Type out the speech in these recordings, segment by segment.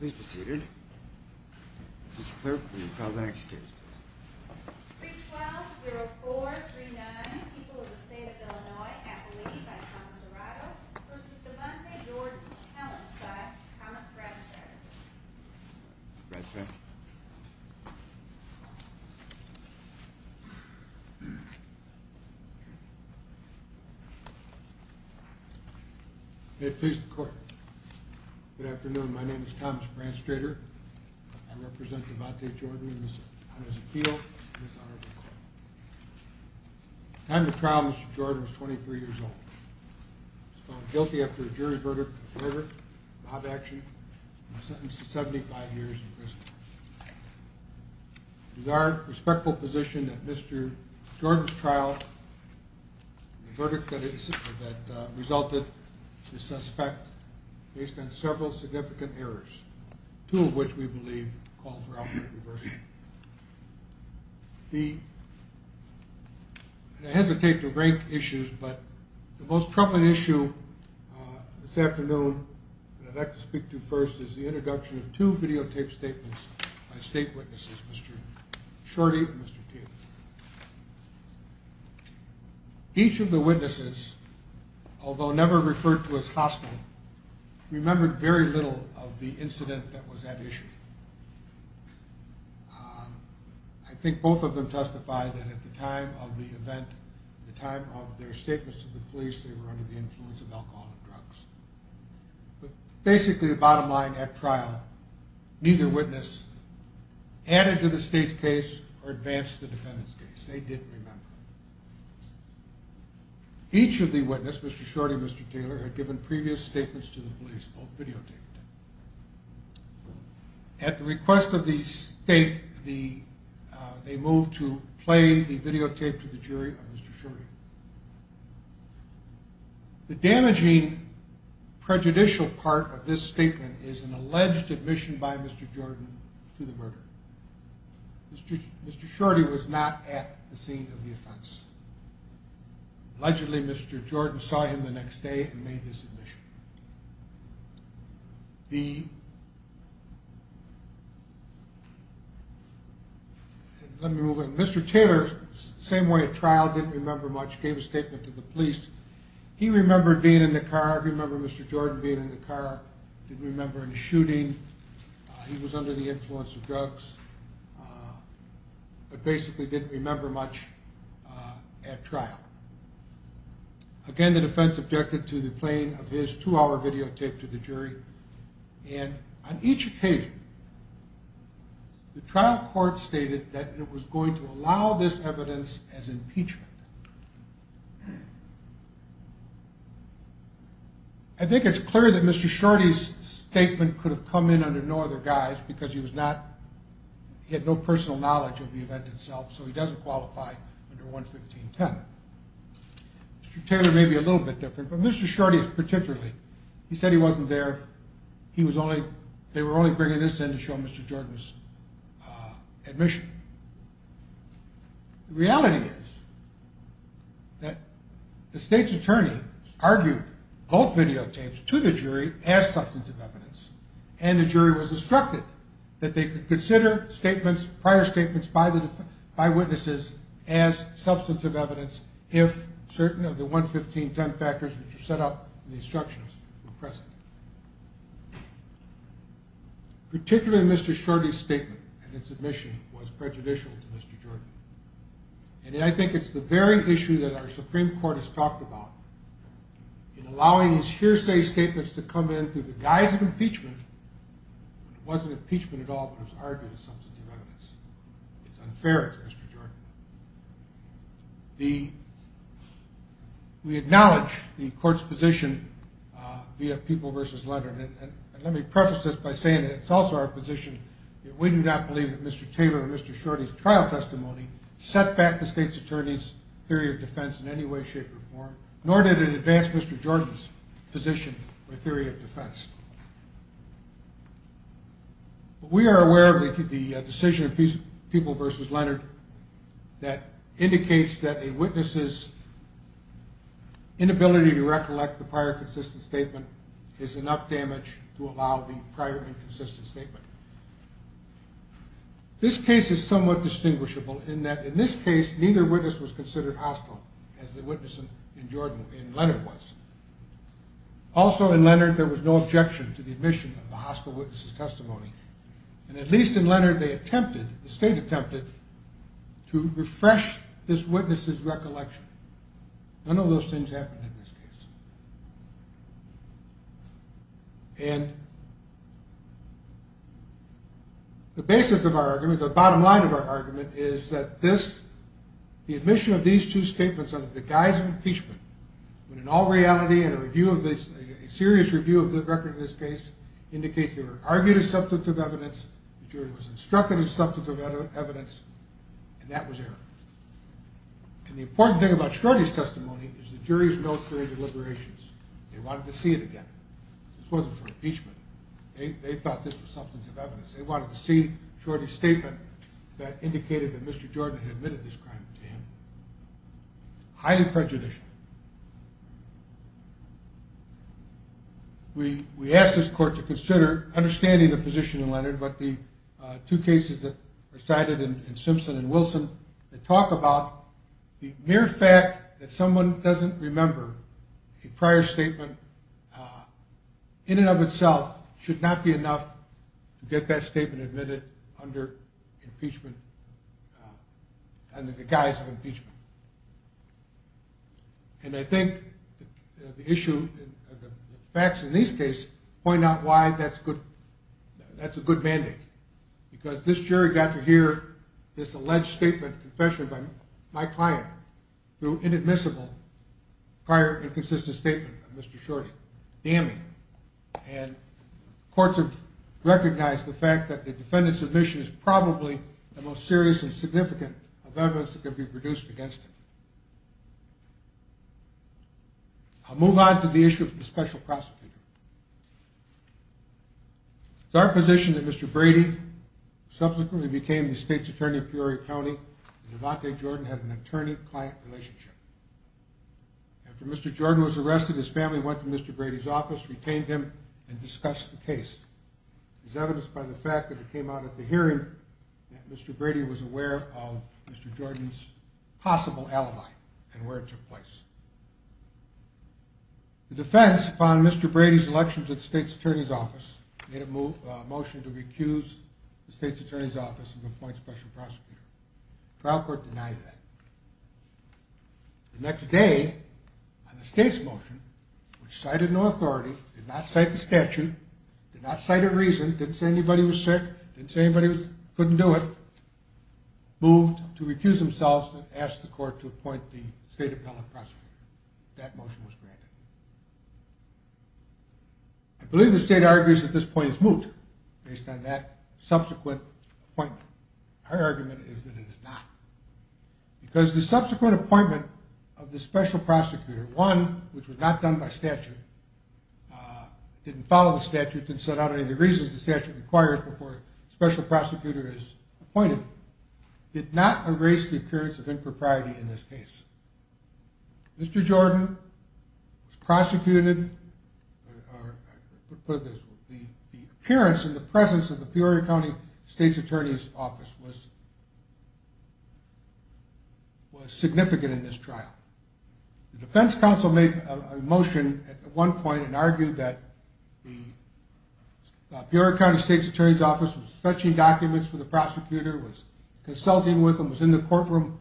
Please be seated. Mr. Clerk, will you call the next case, please? 312-0439, People of the State of Illinois, Appalachia, by Thomas Dorado v. Devante Jordan, Talent, by Thomas Bradstead May it please the Court, Good afternoon. My name is Thomas Bradstead. I represent Devante Jordan on his appeal to this honorable court. At the time of the trial, Mr. Jordan was 23 years old. He was found guilty after a jury verdict in favor of mob action and sentenced to 75 years in prison. It is our respectful position that Mr. Jordan's trial, the verdict that resulted the suspect, based on several significant errors, two of which we believe call for outright reversal. I hesitate to rank issues, but the most troubling issue this afternoon that I'd like to speak to first is the introduction of two videotaped statements by state witnesses, Mr. Shorty and Mr. Teague. Each of the witnesses, although never referred to as hostile, remembered very little of the incident that was at issue. I think both of them testified that at the time of the event, at the time of their statements to the police, they were under the influence of alcohol and drugs. But basically, the bottom line at trial, neither witness added to the state's case or advanced the defendant's case. They didn't remember. Each of the witnesses, Mr. Shorty and Mr. Teague, had given previous statements to the police, both videotaped. At the request of the state, they moved to play the videotape to the jury of Mr. Shorty. The damaging, prejudicial part of this statement is an alleged admission by Mr. Jordan to the murder. Mr. Shorty was not at the scene of the offense. Allegedly, Mr. Jordan saw him the next day and made this admission. Let me move on. Mr. Taylor, same way at trial, didn't remember much, gave a statement to the police. He remembered being in the car. He remembered Mr. Jordan being in the car. He didn't remember him shooting. He was under the influence of drugs. But basically, didn't remember much at trial. Again, the defense objected to the playing of his two-hour videotape to the jury. And on each occasion, the trial court stated that it was going to allow this evidence as impeachment. I think it's clear that Mr. Shorty's statement could have come in under no other guise because he had no personal knowledge of the event itself, so he doesn't qualify under 11510. Mr. Taylor may be a little bit different, but Mr. Shorty particularly. He said he wasn't there. They were only bringing this in to show Mr. Jordan's admission. The reality is that the state's attorney argued both videotapes to the jury as substantive evidence, and the jury was instructed that they could consider prior statements by witnesses as substantive evidence if certain of the 11510 factors which are set out in the instructions were present. Particularly Mr. Shorty's statement and his admission was prejudicial to Mr. Jordan. And I think it's the very issue that our Supreme Court has talked about in allowing these hearsay statements to come in through the guise of impeachment when it wasn't impeachment at all but it was argued as substantive evidence. It's unfair to Mr. Jordan. We acknowledge the court's position via people versus letter, and let me preface this by saying that it's also our position that we do not believe that Mr. Taylor and Mr. Shorty's trial testimony set back the state's attorney's theory of defense in any way, shape, or form nor did it advance Mr. Jordan's position or theory of defense. We are aware of the decision of people versus Leonard that indicates that a witness's inability to recollect the prior consistent statement is enough damage to allow the prior inconsistent statement. This case is somewhat distinguishable in that in this case neither witness was considered hostile as the witness in Leonard was. Also in Leonard there was no objection to the admission of the hostile witness's testimony. And at least in Leonard they attempted, the state attempted, to refresh this witness's recollection. None of those things happened in this case. And the basis of our argument, the bottom line of our argument, is that the admission of these two statements under the guise of impeachment when in all reality a serious review of the record of this case indicates they were argued as substantive evidence, the jury was instructed as substantive evidence, and that was error. And the important thing about Shorty's testimony is the jury's military deliberations. They wanted to see it again. This wasn't for impeachment. They thought this was substantive evidence. They wanted to see Shorty's statement that indicated that Mr. Jordan had admitted this crime to him. Highly prejudicial. We asked this court to consider understanding the position in Leonard about the two cases that were cited in Simpson and Wilson that talk about the mere fact that someone doesn't remember a prior statement in and of itself should not be enough to get that statement admitted under impeachment, under the guise of impeachment. And I think the issue, the facts in these cases point out why that's a good mandate, because this jury got to hear this alleged statement, confession by my client, through inadmissible prior inconsistent statement of Mr. Shorty, damning. And courts have recognized the fact that the defendant's admission is probably the most serious and significant of evidence that could be produced against him. I'll move on to the issue of the special prosecutor. It's our position that Mr. Brady subsequently became the state's attorney of Peoria County, and Ivante Jordan had an attorney-client relationship. After Mr. Jordan was arrested, his family went to Mr. Brady's office, retained him, and discussed the case. It's evidenced by the fact that it came out at the hearing that Mr. Brady was aware of Mr. Jordan's possible alibi and where it took place. The defense, upon Mr. Brady's election to the state's attorney's office, made a motion to recuse the state's attorney's office from appointing a special prosecutor. The trial court denied that. The next day, on the state's motion, which cited no authority, did not cite the statute, did not cite a reason, didn't say anybody was sick, didn't say anybody couldn't do it, moved to recuse themselves and ask the court to appoint the state appellate prosecutor. That motion was granted. I believe the state argues that this point is moot based on that subsequent appointment. Our argument is that it is not. Because the subsequent appointment of the special prosecutor, one which was not done by statute, didn't follow the statute, didn't set out any of the reasons the statute requires before a special prosecutor is appointed, did not erase the occurrence of impropriety in this case. Mr. Jordan was prosecuted, or I put it this way, the appearance and the presence of the Peoria County State's Attorney's Office was significant in this trial. The defense counsel made a motion at one point and argued that the Peoria County State's Attorney's Office was fetching documents for the prosecutor, was consulting with him, was in the courtroom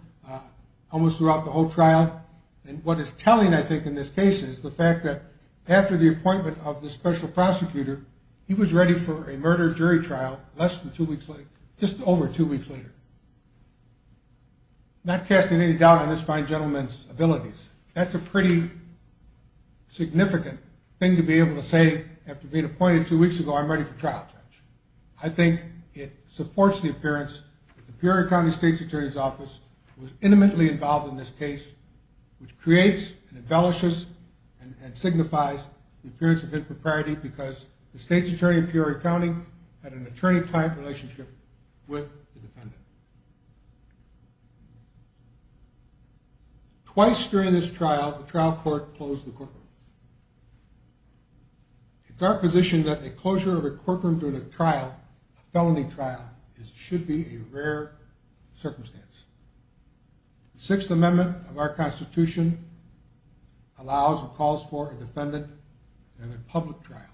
almost throughout the whole trial. And what is telling, I think, in this case is the fact that after the appointment of the special prosecutor, he was ready for a murder jury trial less than two weeks later, just over two weeks later, not casting any doubt on this fine gentleman's abilities. That's a pretty significant thing to be able to say after being appointed two weeks ago, I'm ready for trial. I think it supports the appearance that the Peoria County State's Attorney's Office was intimately involved in this case, which creates and embellishes and signifies the appearance of impropriety because the state's attorney in Peoria County had an attorney-client relationship with the defendant. Twice during this trial, the trial court closed the courtroom. It's our position that a closure of a courtroom during a trial, a felony trial, should be a rare circumstance. The Sixth Amendment of our Constitution allows and calls for a defendant in a public trial.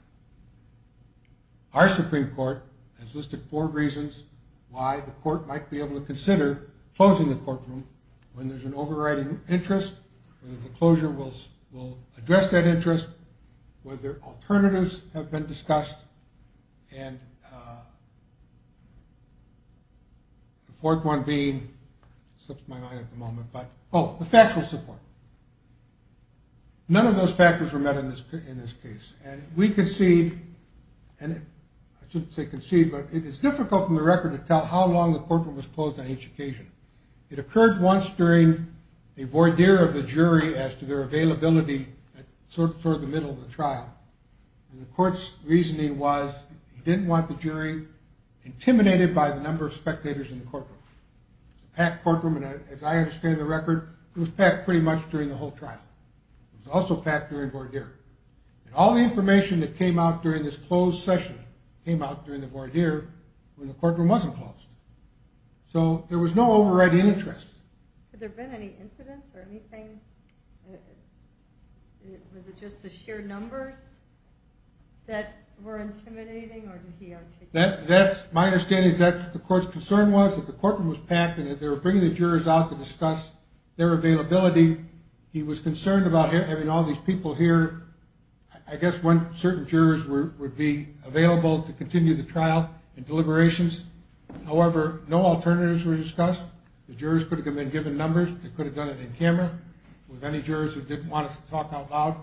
Our Supreme Court has listed four reasons why the court might be able to consider closing the courtroom when there's an overriding interest, whether the closure will address that interest, whether alternatives have been discussed, and the fourth one being, slips my mind at the moment, but oh, the factual support. None of those factors were met in this case. And we concede, and I shouldn't say concede, but it is difficult from the record to tell how long the courtroom was closed on each occasion. It occurred once during a voir dire of the jury as to their availability toward the middle of the trial, and the court's reasoning was he didn't want the jury intimidated by the number of spectators in the courtroom. It was a packed courtroom, and as I understand the record, it was packed pretty much during the whole trial. It was also packed during voir dire. And all the information that came out during this closed session came out during the voir dire when the courtroom wasn't closed. So there was no overriding interest. Had there been any incidents or anything? Was it just the sheer numbers that were intimidating, or did he articulate that? My understanding is that the court's concern was that the courtroom was packed and that they were bringing the jurors out to discuss their availability. He was concerned about having all these people here. I guess when certain jurors would be available to continue the trial and deliberations. However, no alternatives were discussed. The jurors could have been given numbers. They could have done it in camera with any jurors who didn't want to talk out loud.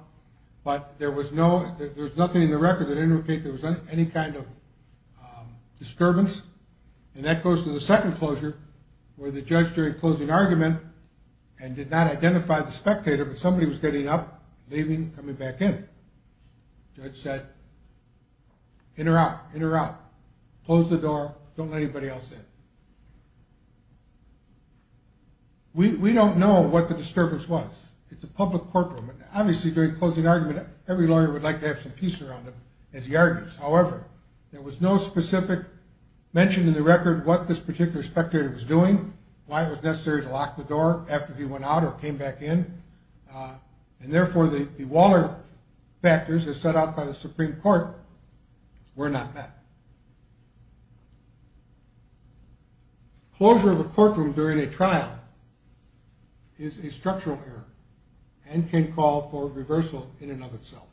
But there was nothing in the record that indicated there was any kind of disturbance. And that goes to the second closure where the judge during closing argument and did not identify the spectator, but somebody was getting up, leaving, coming back in. Judge said, enter out, enter out, close the door, don't let anybody else in. We don't know what the disturbance was. It's a public courtroom. Obviously during closing argument every lawyer would like to have some peace around them as he argues. However, there was no specific mention in the record what this particular spectator was doing, why it was necessary to lock the door after he went out or came back in. And therefore the Waller factors as set out by the Supreme Court were not met. Closure of a courtroom during a trial is a structural error and can call for reversal in and of itself.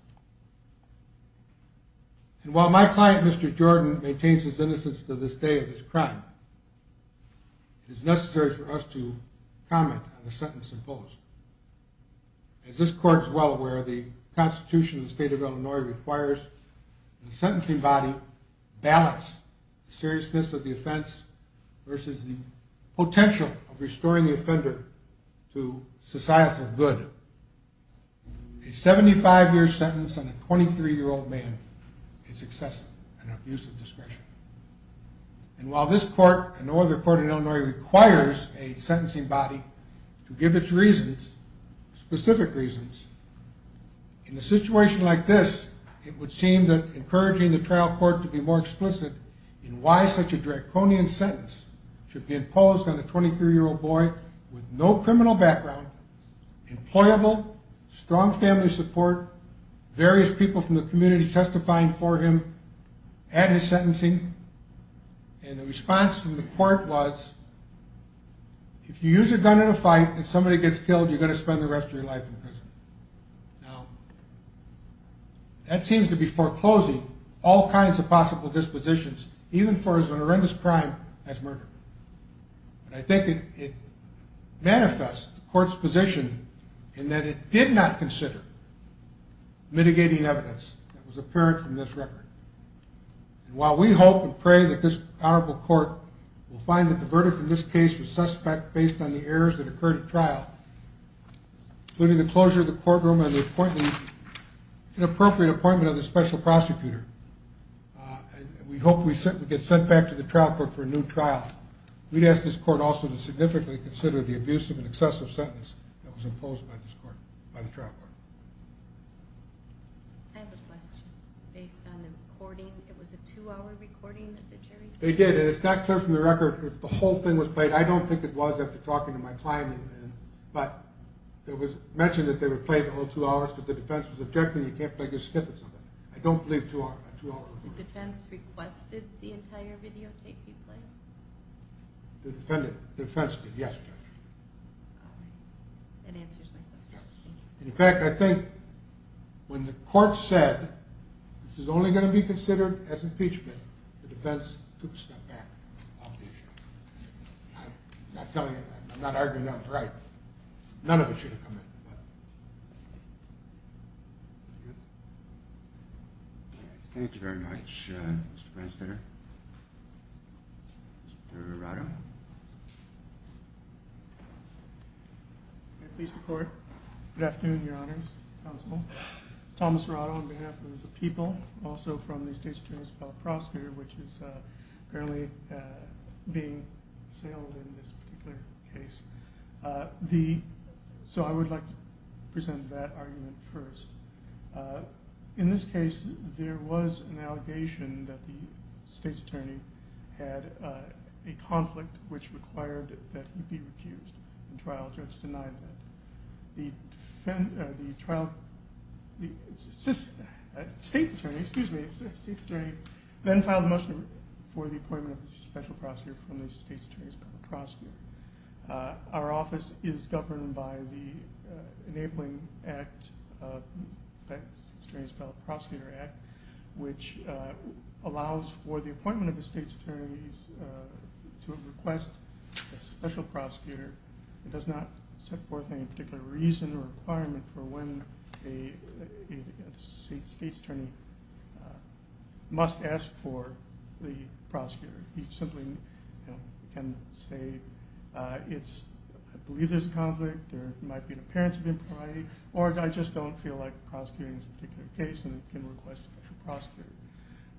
And while my client, Mr. Jordan, maintains his innocence to this day of his crime, it is necessary for us to comment on the sentence imposed. As this court is well aware, the Constitution of the state of Illinois requires the sentencing body balance the seriousness of the offense versus the potential of restoring the offender to societal good. A 75-year sentence on a 23-year-old man is excessive and an abuse of discretion. And while this court and no other court in Illinois requires a sentencing body to give its reasons, specific reasons, in a situation like this it would seem that encouraging the trial court to be more explicit in why such a draconian sentence should be imposed on a 23-year-old boy with no criminal background, employable, strong family support, various people from the community testifying for him at his sentencing and the response from the court was, if you use a gun in a fight and somebody gets killed, you're going to spend the rest of your life in prison. Now, that seems to be foreclosing all kinds of possible dispositions, even for as horrendous a crime as murder. But I think it manifests the court's position in that it did not consider mitigating evidence that was apparent from this record. And while we hope and pray that this honorable court will find that the verdict in this case was suspect based on the errors that occurred at trial, including the closure of the courtroom and the inappropriate appointment of the special prosecutor, we hope we get sent back to the trial court for a new trial, we'd ask this court also to significantly consider the abuse of an excessive sentence that was imposed by the trial court. I have a question. Based on the recording, it was a two-hour recording? They did, and it's not clear from the record because the whole thing was played. I don't think it was after talking to my client. But it was mentioned that they would play the whole two hours, but the defense was objecting, you can't play the snippets of it. I don't believe a two-hour recording. The defense requested the entire videotape be played? The defense did, yes. In fact, I think when the court said this is only going to be considered as impeachment, the defense took a step back on the issue. I'm not arguing that was right. None of it should have come in. Thank you very much, Mr. Branstetter. Mr. Arado? May it please the court. Good afternoon, Your Honors. Thomas Arado on behalf of the people. Also from the State's Attorney's Appellate Prosecutor, which is apparently being assailed in this particular case. So I would like to present that argument first. In this case, there was an allegation that the State's Attorney had a conflict which required that he be recused. The trial judge denied that. The State's Attorney then filed a motion for the appointment of the Special Prosecutor from the State's Attorney's Appellate Prosecutor. Our office is governed by the Enabling Act, the Appellate Prosecutor Act, which allows for the appointment of the State's Attorney to request a Special Prosecutor. It does not set forth any particular reason or requirement for when a State's Attorney must ask for the prosecutor. He simply can say, I believe there's a conflict, there might be an appearance of impropriety, or I just don't feel like prosecuting this particular case and can request a Special Prosecutor.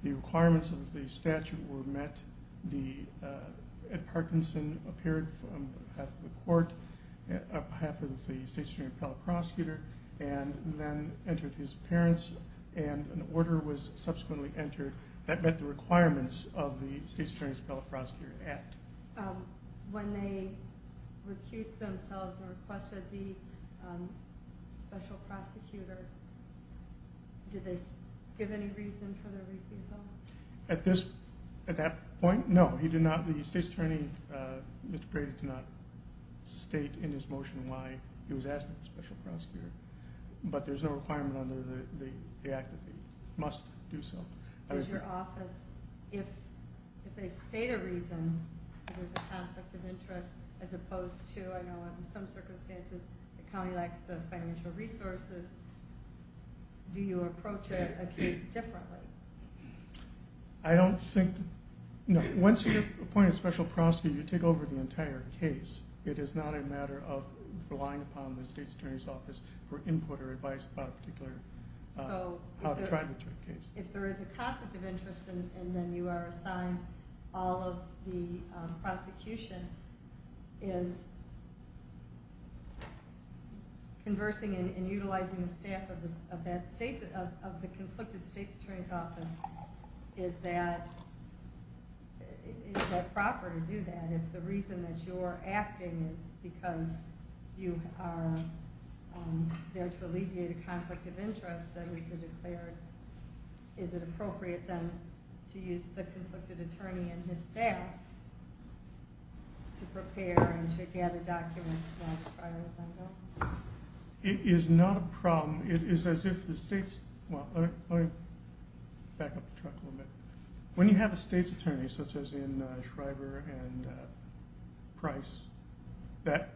The requirements of the statute were met. Ed Parkinson appeared on behalf of the court, on behalf of the State's Attorney's Appellate Prosecutor, and then entered his appearance, and an order was subsequently entered that met the requirements of the State's Attorney's Appellate Prosecutor Act. When they recused themselves and requested the Special Prosecutor, did they give any reason for their refusal? At that point, no. The State's Attorney, Mr. Brady, did not state in his motion why he was asking for a Special Prosecutor. But there's no requirement under the Act that they must do so. Does your office, if they state a reason, if there's a conflict of interest, as opposed to, I know in some circumstances, the county lacks the financial resources, do you approach a case differently? I don't think, no. Once you get appointed Special Prosecutor, you take over the entire case. It is not a matter of relying upon the State's Attorney's Office for input or advice about a particular, how to try to get to a case. If there is a conflict of interest, and then you are assigned all of the prosecution, is conversing and utilizing the staff of the conflicted State's Attorney's Office, is that proper to do that? And if the reason that you're acting is because you are there to alleviate a conflict of interest, then you can declare, is it appropriate then to use the conflicted attorney and his staff to prepare and to gather documents? It is not a problem. It is as if the State's, well, let me back up the track a little bit. When you have a State's Attorney, such as in Shriver and Price, that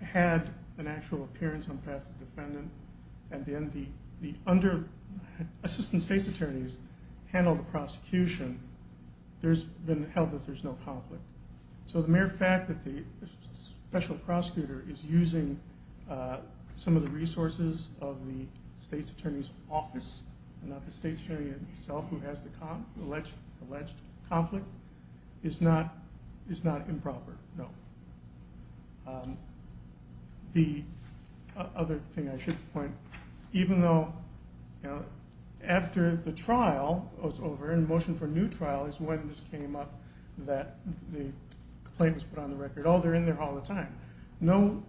had an actual appearance on behalf of the defendant, and then the Assistant State's Attorneys handle the prosecution, there's been held that there's no conflict. So the mere fact that the Special Prosecutor is using some of the resources of the State's Attorney's Office, and not the State's Attorney himself who has the alleged conflict, is not improper, no. The other thing I should point, even though after the trial was over, and the motion for a new trial is when this came up, that the complaint was put on the record, oh, they're in there all the time. No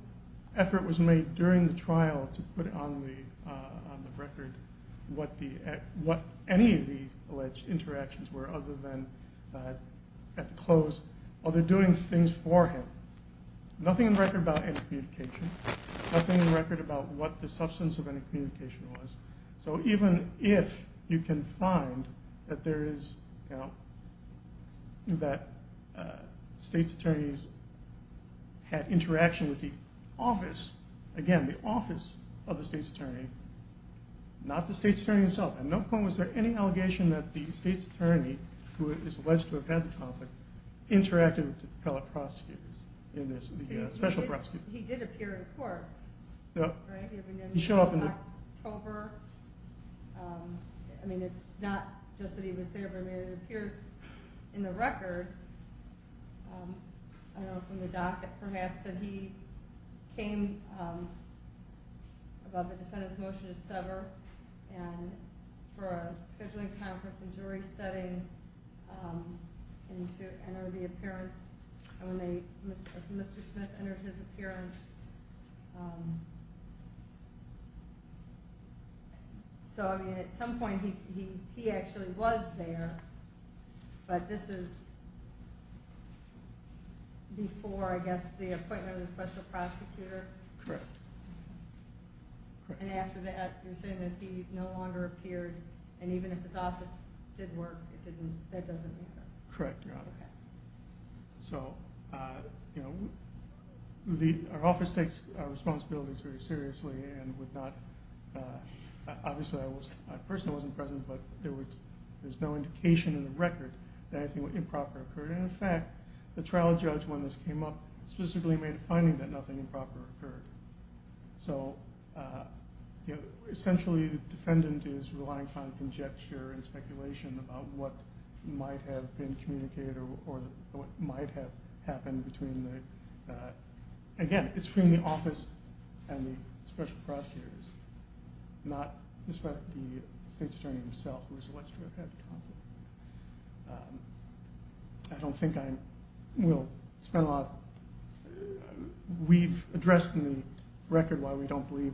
effort was made during the trial to put on the record what any of the alleged interactions were, other than at the close, oh, they're doing things for him. Nothing on the record about any communication. Nothing on the record about what the substance of any communication was. So even if you can find that State's Attorneys had interaction with the Office, again, the Office of the State's Attorney, not the State's Attorney himself. At no point was there any allegation that the State's Attorney, who is alleged to have had the conflict, interacted with the appellate prosecutors, the Special Prosecutors. He did appear in court, right? He showed up in October. I mean, it's not just that he was there, but it appears in the record, I don't know, from the docket perhaps, that he came about the defendant's motion to sever, and for a scheduling conference and jury setting, and to enter the appearance, and when Mr. Smith entered his appearance. So, I mean, at some point he actually was there, but this is before, I guess, the appointment of the Special Prosecutor. Correct. And after that, you're saying that he no longer appeared, and even if his office did work, that doesn't make sense. Correct, Your Honor. Okay. So, you know, our office takes our responsibilities very seriously and would not, obviously I personally wasn't present, but there's no indication in the record that anything improper occurred. And, in fact, the trial judge, when this came up, specifically made a finding that nothing improper occurred. So, you know, essentially the defendant is relying upon conjecture and speculation about what might have been communicated or what might have happened between the, again, it's between the office and the Special Prosecutors, not the State's Attorney himself, who was alleged to have had a conflict. So, I don't think I will spend a lot of, we've addressed in the record why we don't believe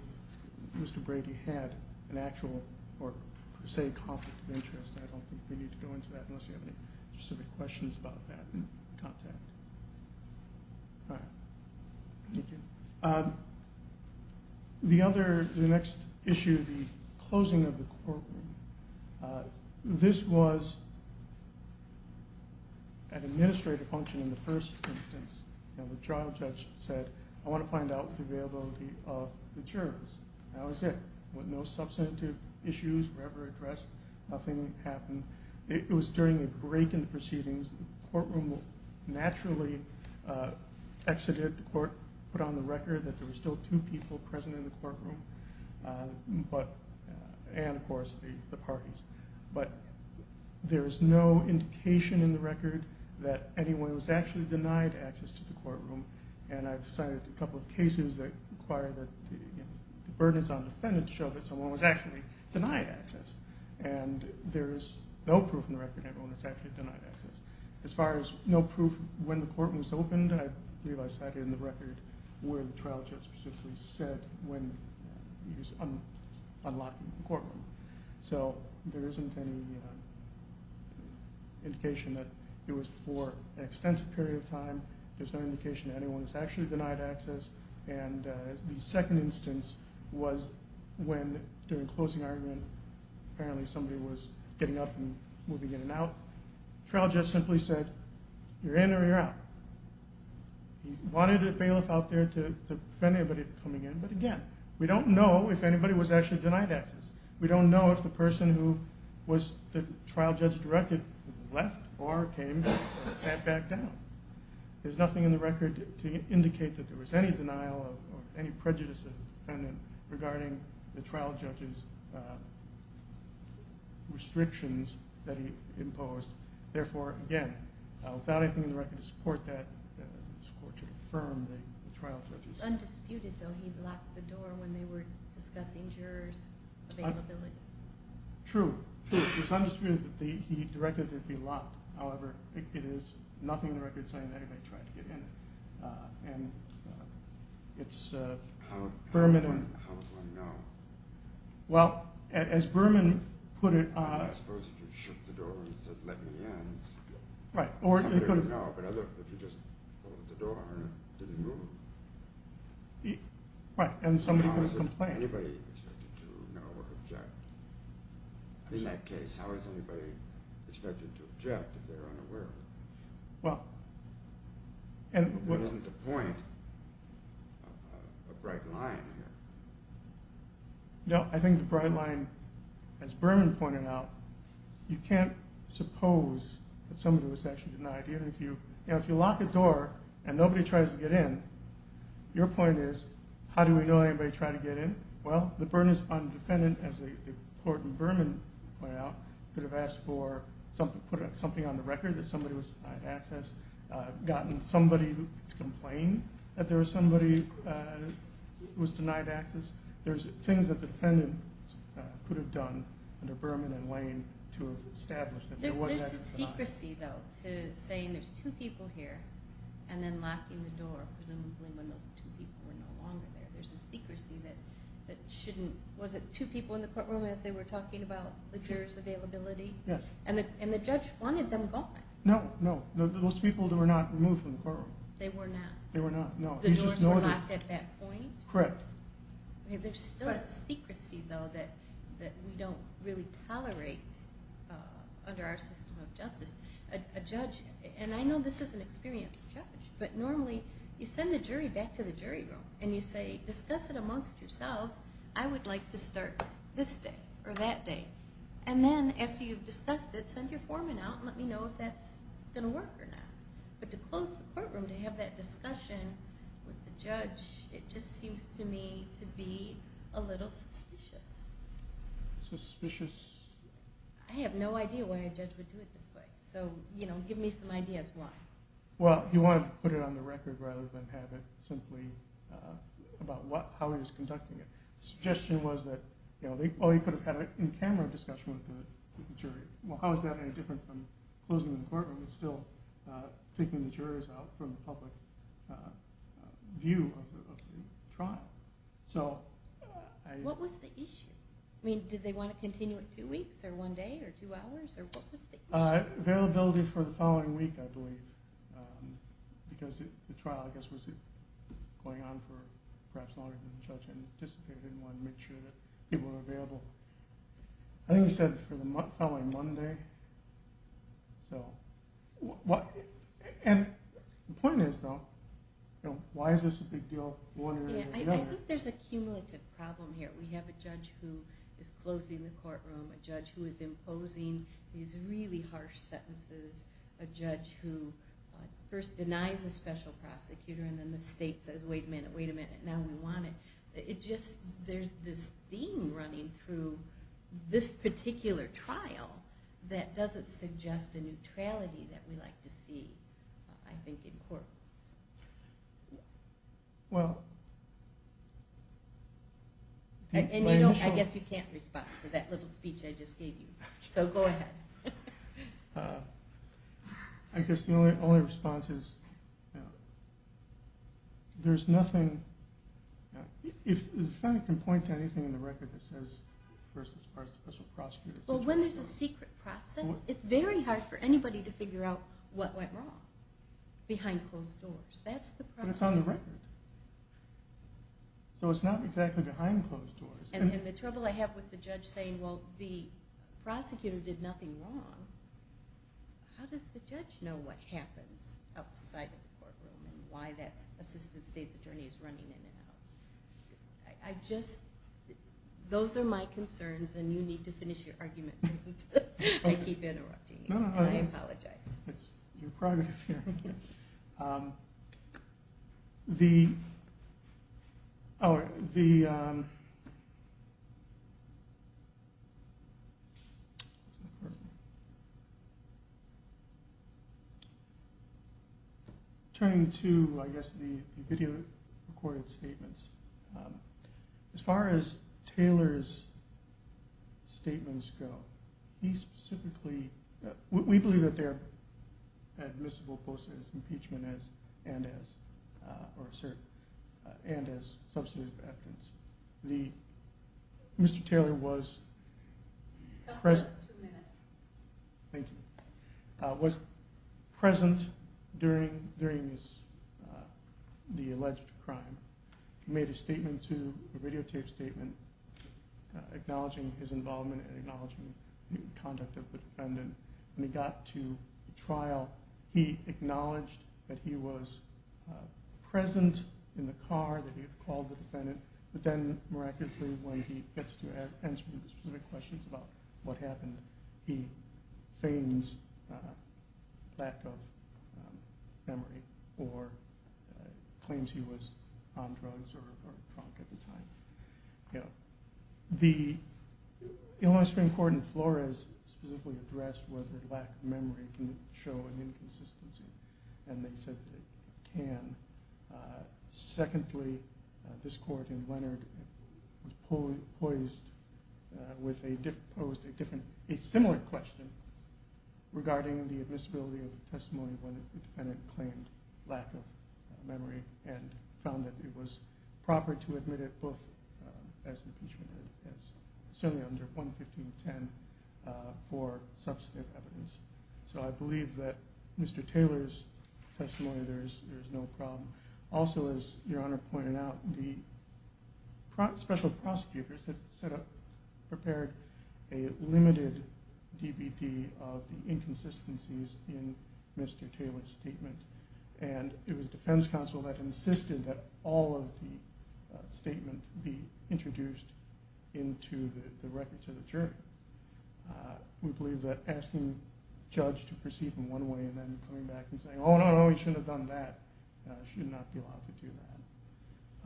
Mr. Brady had an actual or per se conflict of interest. I don't think we need to go into that unless you have any specific questions about that in contact. All right. Thank you. The other, the next issue, the closing of the courtroom, this was an administrative function in the first instance. You know, the trial judge said, I want to find out the availability of the jurors. That was it. No substantive issues were ever addressed. Nothing happened. It was during a break in the proceedings. The courtroom naturally exited the court, put on the record that there were still two people present in the courtroom, and, of course, the parties. But there is no indication in the record that anyone was actually denied access to the courtroom. And I've cited a couple of cases that require that the burdens on the defendant show that someone was actually denied access. And there is no proof in the record that anyone was actually denied access. As far as no proof when the courtroom was opened, I realized that in the record where the trial judge specifically said when he was unlocking the courtroom. So there isn't any indication that it was for an extensive period of time. There's no indication that anyone was actually denied access. And the second instance was when, during closing argument, apparently somebody was getting up and moving in and out. The trial judge simply said, you're in or you're out. He wanted bailiff out there to prevent anybody from coming in. But, again, we don't know if anybody was actually denied access. We don't know if the person who was the trial judge directed left or came and sat back down. There's nothing in the record to indicate that there was any denial or any prejudice of the defendant regarding the trial judge's restrictions that he imposed. Therefore, again, without anything in the record to support that, this Court should affirm the trial judge's. It's undisputed, though, he locked the door when they were discussing jurors' availability. True. It's undisputed that he directed there be locked. However, it is nothing in the record saying that anybody tried to get in. And it's Berman and – How would one know? Well, as Berman put it – I suppose if you shook the door and said, let me in, somebody would know. But if you just opened the door and it didn't move. Right, and somebody would complain. How is it anybody expected to know or object? In that case, how is anybody expected to object if they're unaware? Well – What isn't the point of a bright line here? No, I think the bright line, as Berman pointed out, you can't suppose that somebody was actually denied. If you lock the door and nobody tries to get in, your point is, how do we know anybody tried to get in? Well, the burden is on the defendant, as the court in Berman pointed out, could have asked for – put something on the record that somebody was denied access, gotten somebody to complain that there was somebody who was denied access. There's things that the defendant could have done under Berman and Lane to establish that there was access. There's a secrecy, though, to saying there's two people here and then locking the door, presumably when those two people were no longer there. There's a secrecy that shouldn't – was it two people in the courtroom as they were talking about the jurors' availability? Yes. And the judge wanted them gone. No, no, those people were not removed from the courtroom. They were not. They were not, no. The doors were locked at that point? Correct. There's still a secrecy, though, that we don't really tolerate under our system of justice. A judge – and I know this is an experienced judge, but normally you send the jury back to the jury room and you say, discuss it amongst yourselves. I would like to start this day or that day. And then after you've discussed it, send your foreman out and let me know if that's going to work or not. But to close the courtroom, to have that discussion with the judge, it just seems to me to be a little suspicious. Suspicious? I have no idea why a judge would do it this way, so give me some ideas why. Well, you want to put it on the record rather than have it simply about how he was conducting it. The suggestion was that, oh, he could have had an in-camera discussion with the jury. Well, how is that any different from closing the courtroom and still taking the jurors out from the public view of the trial? What was the issue? I mean, did they want to continue it two weeks or one day or two hours, or what was the issue? Availability for the following week, I believe, because the trial, I guess, was going on for perhaps longer than the judge anticipated and wanted to make sure that people were available. I think he said for the following Monday. The point is, though, why is this a big deal, one or the other? I think there's a cumulative problem here. We have a judge who is closing the courtroom, a judge who is imposing these really harsh sentences, a judge who first denies a special prosecutor and then the state says, wait a minute, wait a minute, now we want it. There's this theme running through this particular trial that doesn't suggest a neutrality that we like to see, I think, in court. I guess you can't respond to that little speech I just gave you, so go ahead. I guess the only response is there's nothing. If I can point to anything in the record that says versus a special prosecutor. Well, when there's a secret process, it's very hard for anybody to figure out what went wrong behind closed doors. That's the problem. But it's on the record. So it's not exactly behind closed doors. And the trouble I have with the judge saying, well, the prosecutor did nothing wrong, how does the judge know what happens outside of the courtroom and why that assistant state's attorney is running in and out? I just, those are my concerns and you need to finish your argument. I keep interrupting you. I apologize. It's your private affair. Turning to, I guess, the video recorded statements, as far as Taylor's statements go, he specifically, we believe that they're admissible both as impeachment and as substantive evidence. Mr. Taylor was present during the alleged crime. He made a statement to, a radio tape statement, acknowledging his involvement and acknowledging the conduct of the defendant. When he got to trial, he acknowledged that he was present in the car, that he had called the defendant. But then, miraculously, when he gets to answer specific questions about what happened, he feigns lack of memory or claims he was on drugs or drunk at the time. The Illinois Supreme Court in Flores specifically addressed whether lack of memory can show an inconsistency. And they said it can. Secondly, this court in Leonard was poised with a different, a similar question regarding the admissibility of the testimony when the defendant claimed lack of memory and found that it was proper to admit it both as impeachment and certainly under 11510 for substantive evidence. So I believe that Mr. Taylor's testimony, there's no problem. Also, as Your Honor pointed out, the special prosecutors had set up, prepared a limited DBP of the inconsistencies in Mr. Taylor's statement. And it was defense counsel that insisted that all of the statement be introduced into the records of the jury. We believe that asking a judge to proceed in one way and then coming back and saying, oh no, no, no, you shouldn't have done that, should not be allowed to do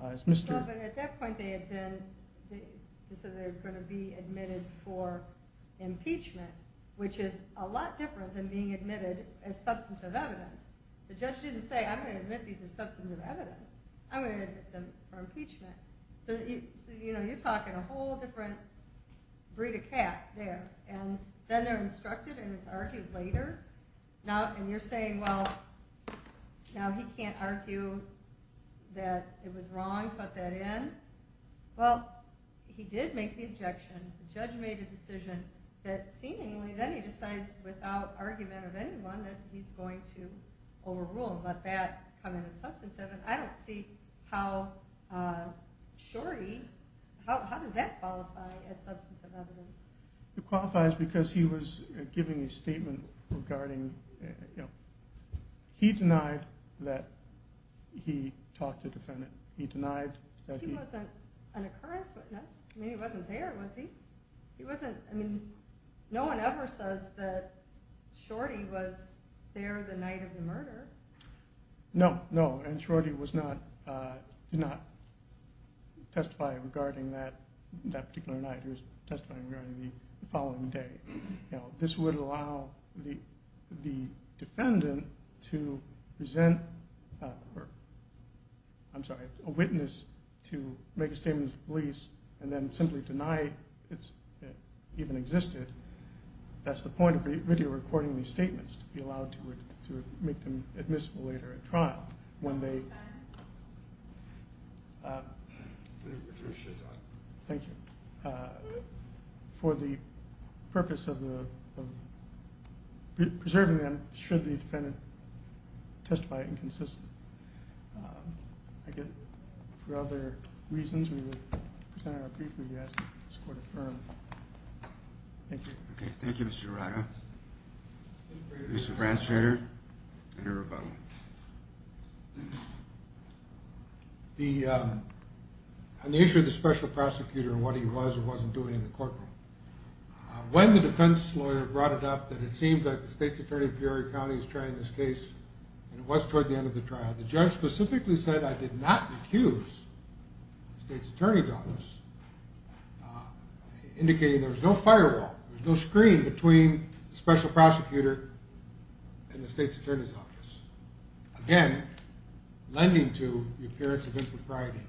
that. At that point, they had said they were going to be admitted for impeachment, which is a lot different than being admitted as substantive evidence. The judge didn't say, I'm going to admit these as substantive evidence. I'm going to admit them for impeachment. So you're talking a whole different breed of cat there. And then they're instructed and it's argued later. And you're saying, well, now he can't argue that it was wrong to put that in. Well, he did make the objection. The judge made a decision that seemingly then he decides without argument of anyone that he's going to overrule and let that come in as substantive. And I don't see how Shorty – how does that qualify as substantive evidence? It qualifies because he was giving a statement regarding – he denied that he talked to the defendant. He denied that he – He wasn't an occurrence witness. I mean, he wasn't there, was he? He wasn't – I mean, no one ever says that Shorty was there the night of the murder. No, no, and Shorty was not – did not testify regarding that particular night. He was testifying regarding the following day. This would allow the defendant to present – I'm sorry, a witness to make a statement to police and then simply deny it even existed. That's the point of video recording these statements, to be allowed to make them admissible later at trial. When they – Thank you. For the purpose of preserving them should the defendant testify inconsistent. Again, for other reasons, we will present our brief review as the court affirmed. Thank you. Okay, thank you, Mr. Arado. Mr. Branstrader and your rebuttal. The – on the issue of the special prosecutor and what he was or wasn't doing in the courtroom, when the defense lawyer brought it up that it seemed that the state's attorney in Peoria County was trying this case and it was toward the end of the trial. The judge specifically said, I did not accuse the state's attorney's office, indicating there was no firewall, there was no screen between the special prosecutor and the state's attorney's office. Again, lending to the appearance of impropriety.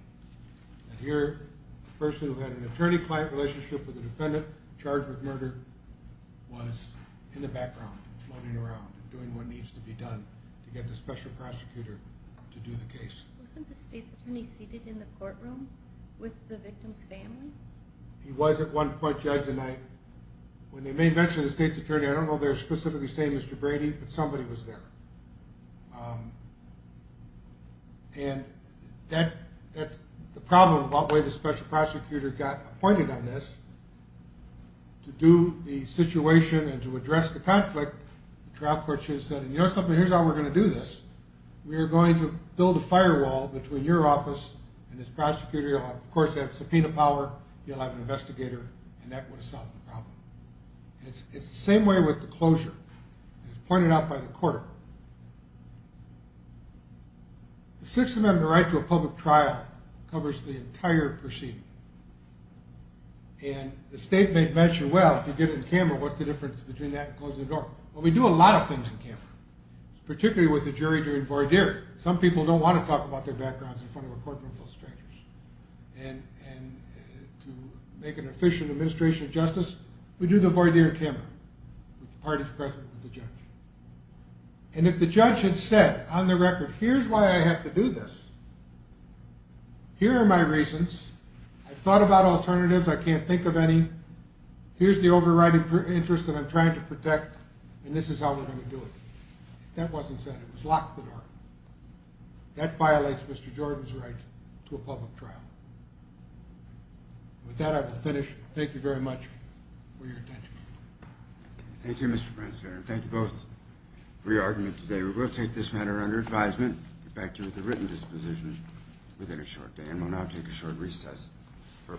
And here, the person who had an attorney-client relationship with the defendant charged with murder was in the background, floating around, doing what needs to be done to get the special prosecutor to do the case. Wasn't the state's attorney seated in the courtroom with the victim's family? He was at one point, Judge, and I – when they made mention of the state's attorney, I don't know if they were specifically saying Mr. Brady, but somebody was there. And that's the problem about the way the special prosecutor got appointed on this, to do the situation and to address the conflict. The trial court should have said, you know something, here's how we're going to do this. We are going to build a firewall between your office and this prosecutor. You'll, of course, have subpoena power. You'll have an investigator, and that would have solved the problem. It's the same way with the closure. As pointed out by the court, the Sixth Amendment right to a public trial covers the entire proceeding. And the state made mention, well, if you did it in Canberra, what's the difference between that and closing the door? Well, we do a lot of things in Canberra, particularly with the jury during voir dire. Some people don't want to talk about their backgrounds in front of a courtroom full of strangers. And to make an efficient administration of justice, we do the voir dire in Canberra, with the parties present, with the judge. And if the judge had said, on the record, here's why I have to do this, here are my reasons. I've thought about alternatives. I can't think of any. Here's the overriding interest that I'm trying to protect, and this is how we're going to do it. If that wasn't said, it would lock the door. That violates Mr. Jordan's right to a public trial. With that, I will finish. Thank you very much for your attention. Thank you, Mr. Brents. Thank you both for your argument today. We will take this matter under advisement. Get back to you with a written disposition within a short day. And we'll now take a short recess for a panel discussion.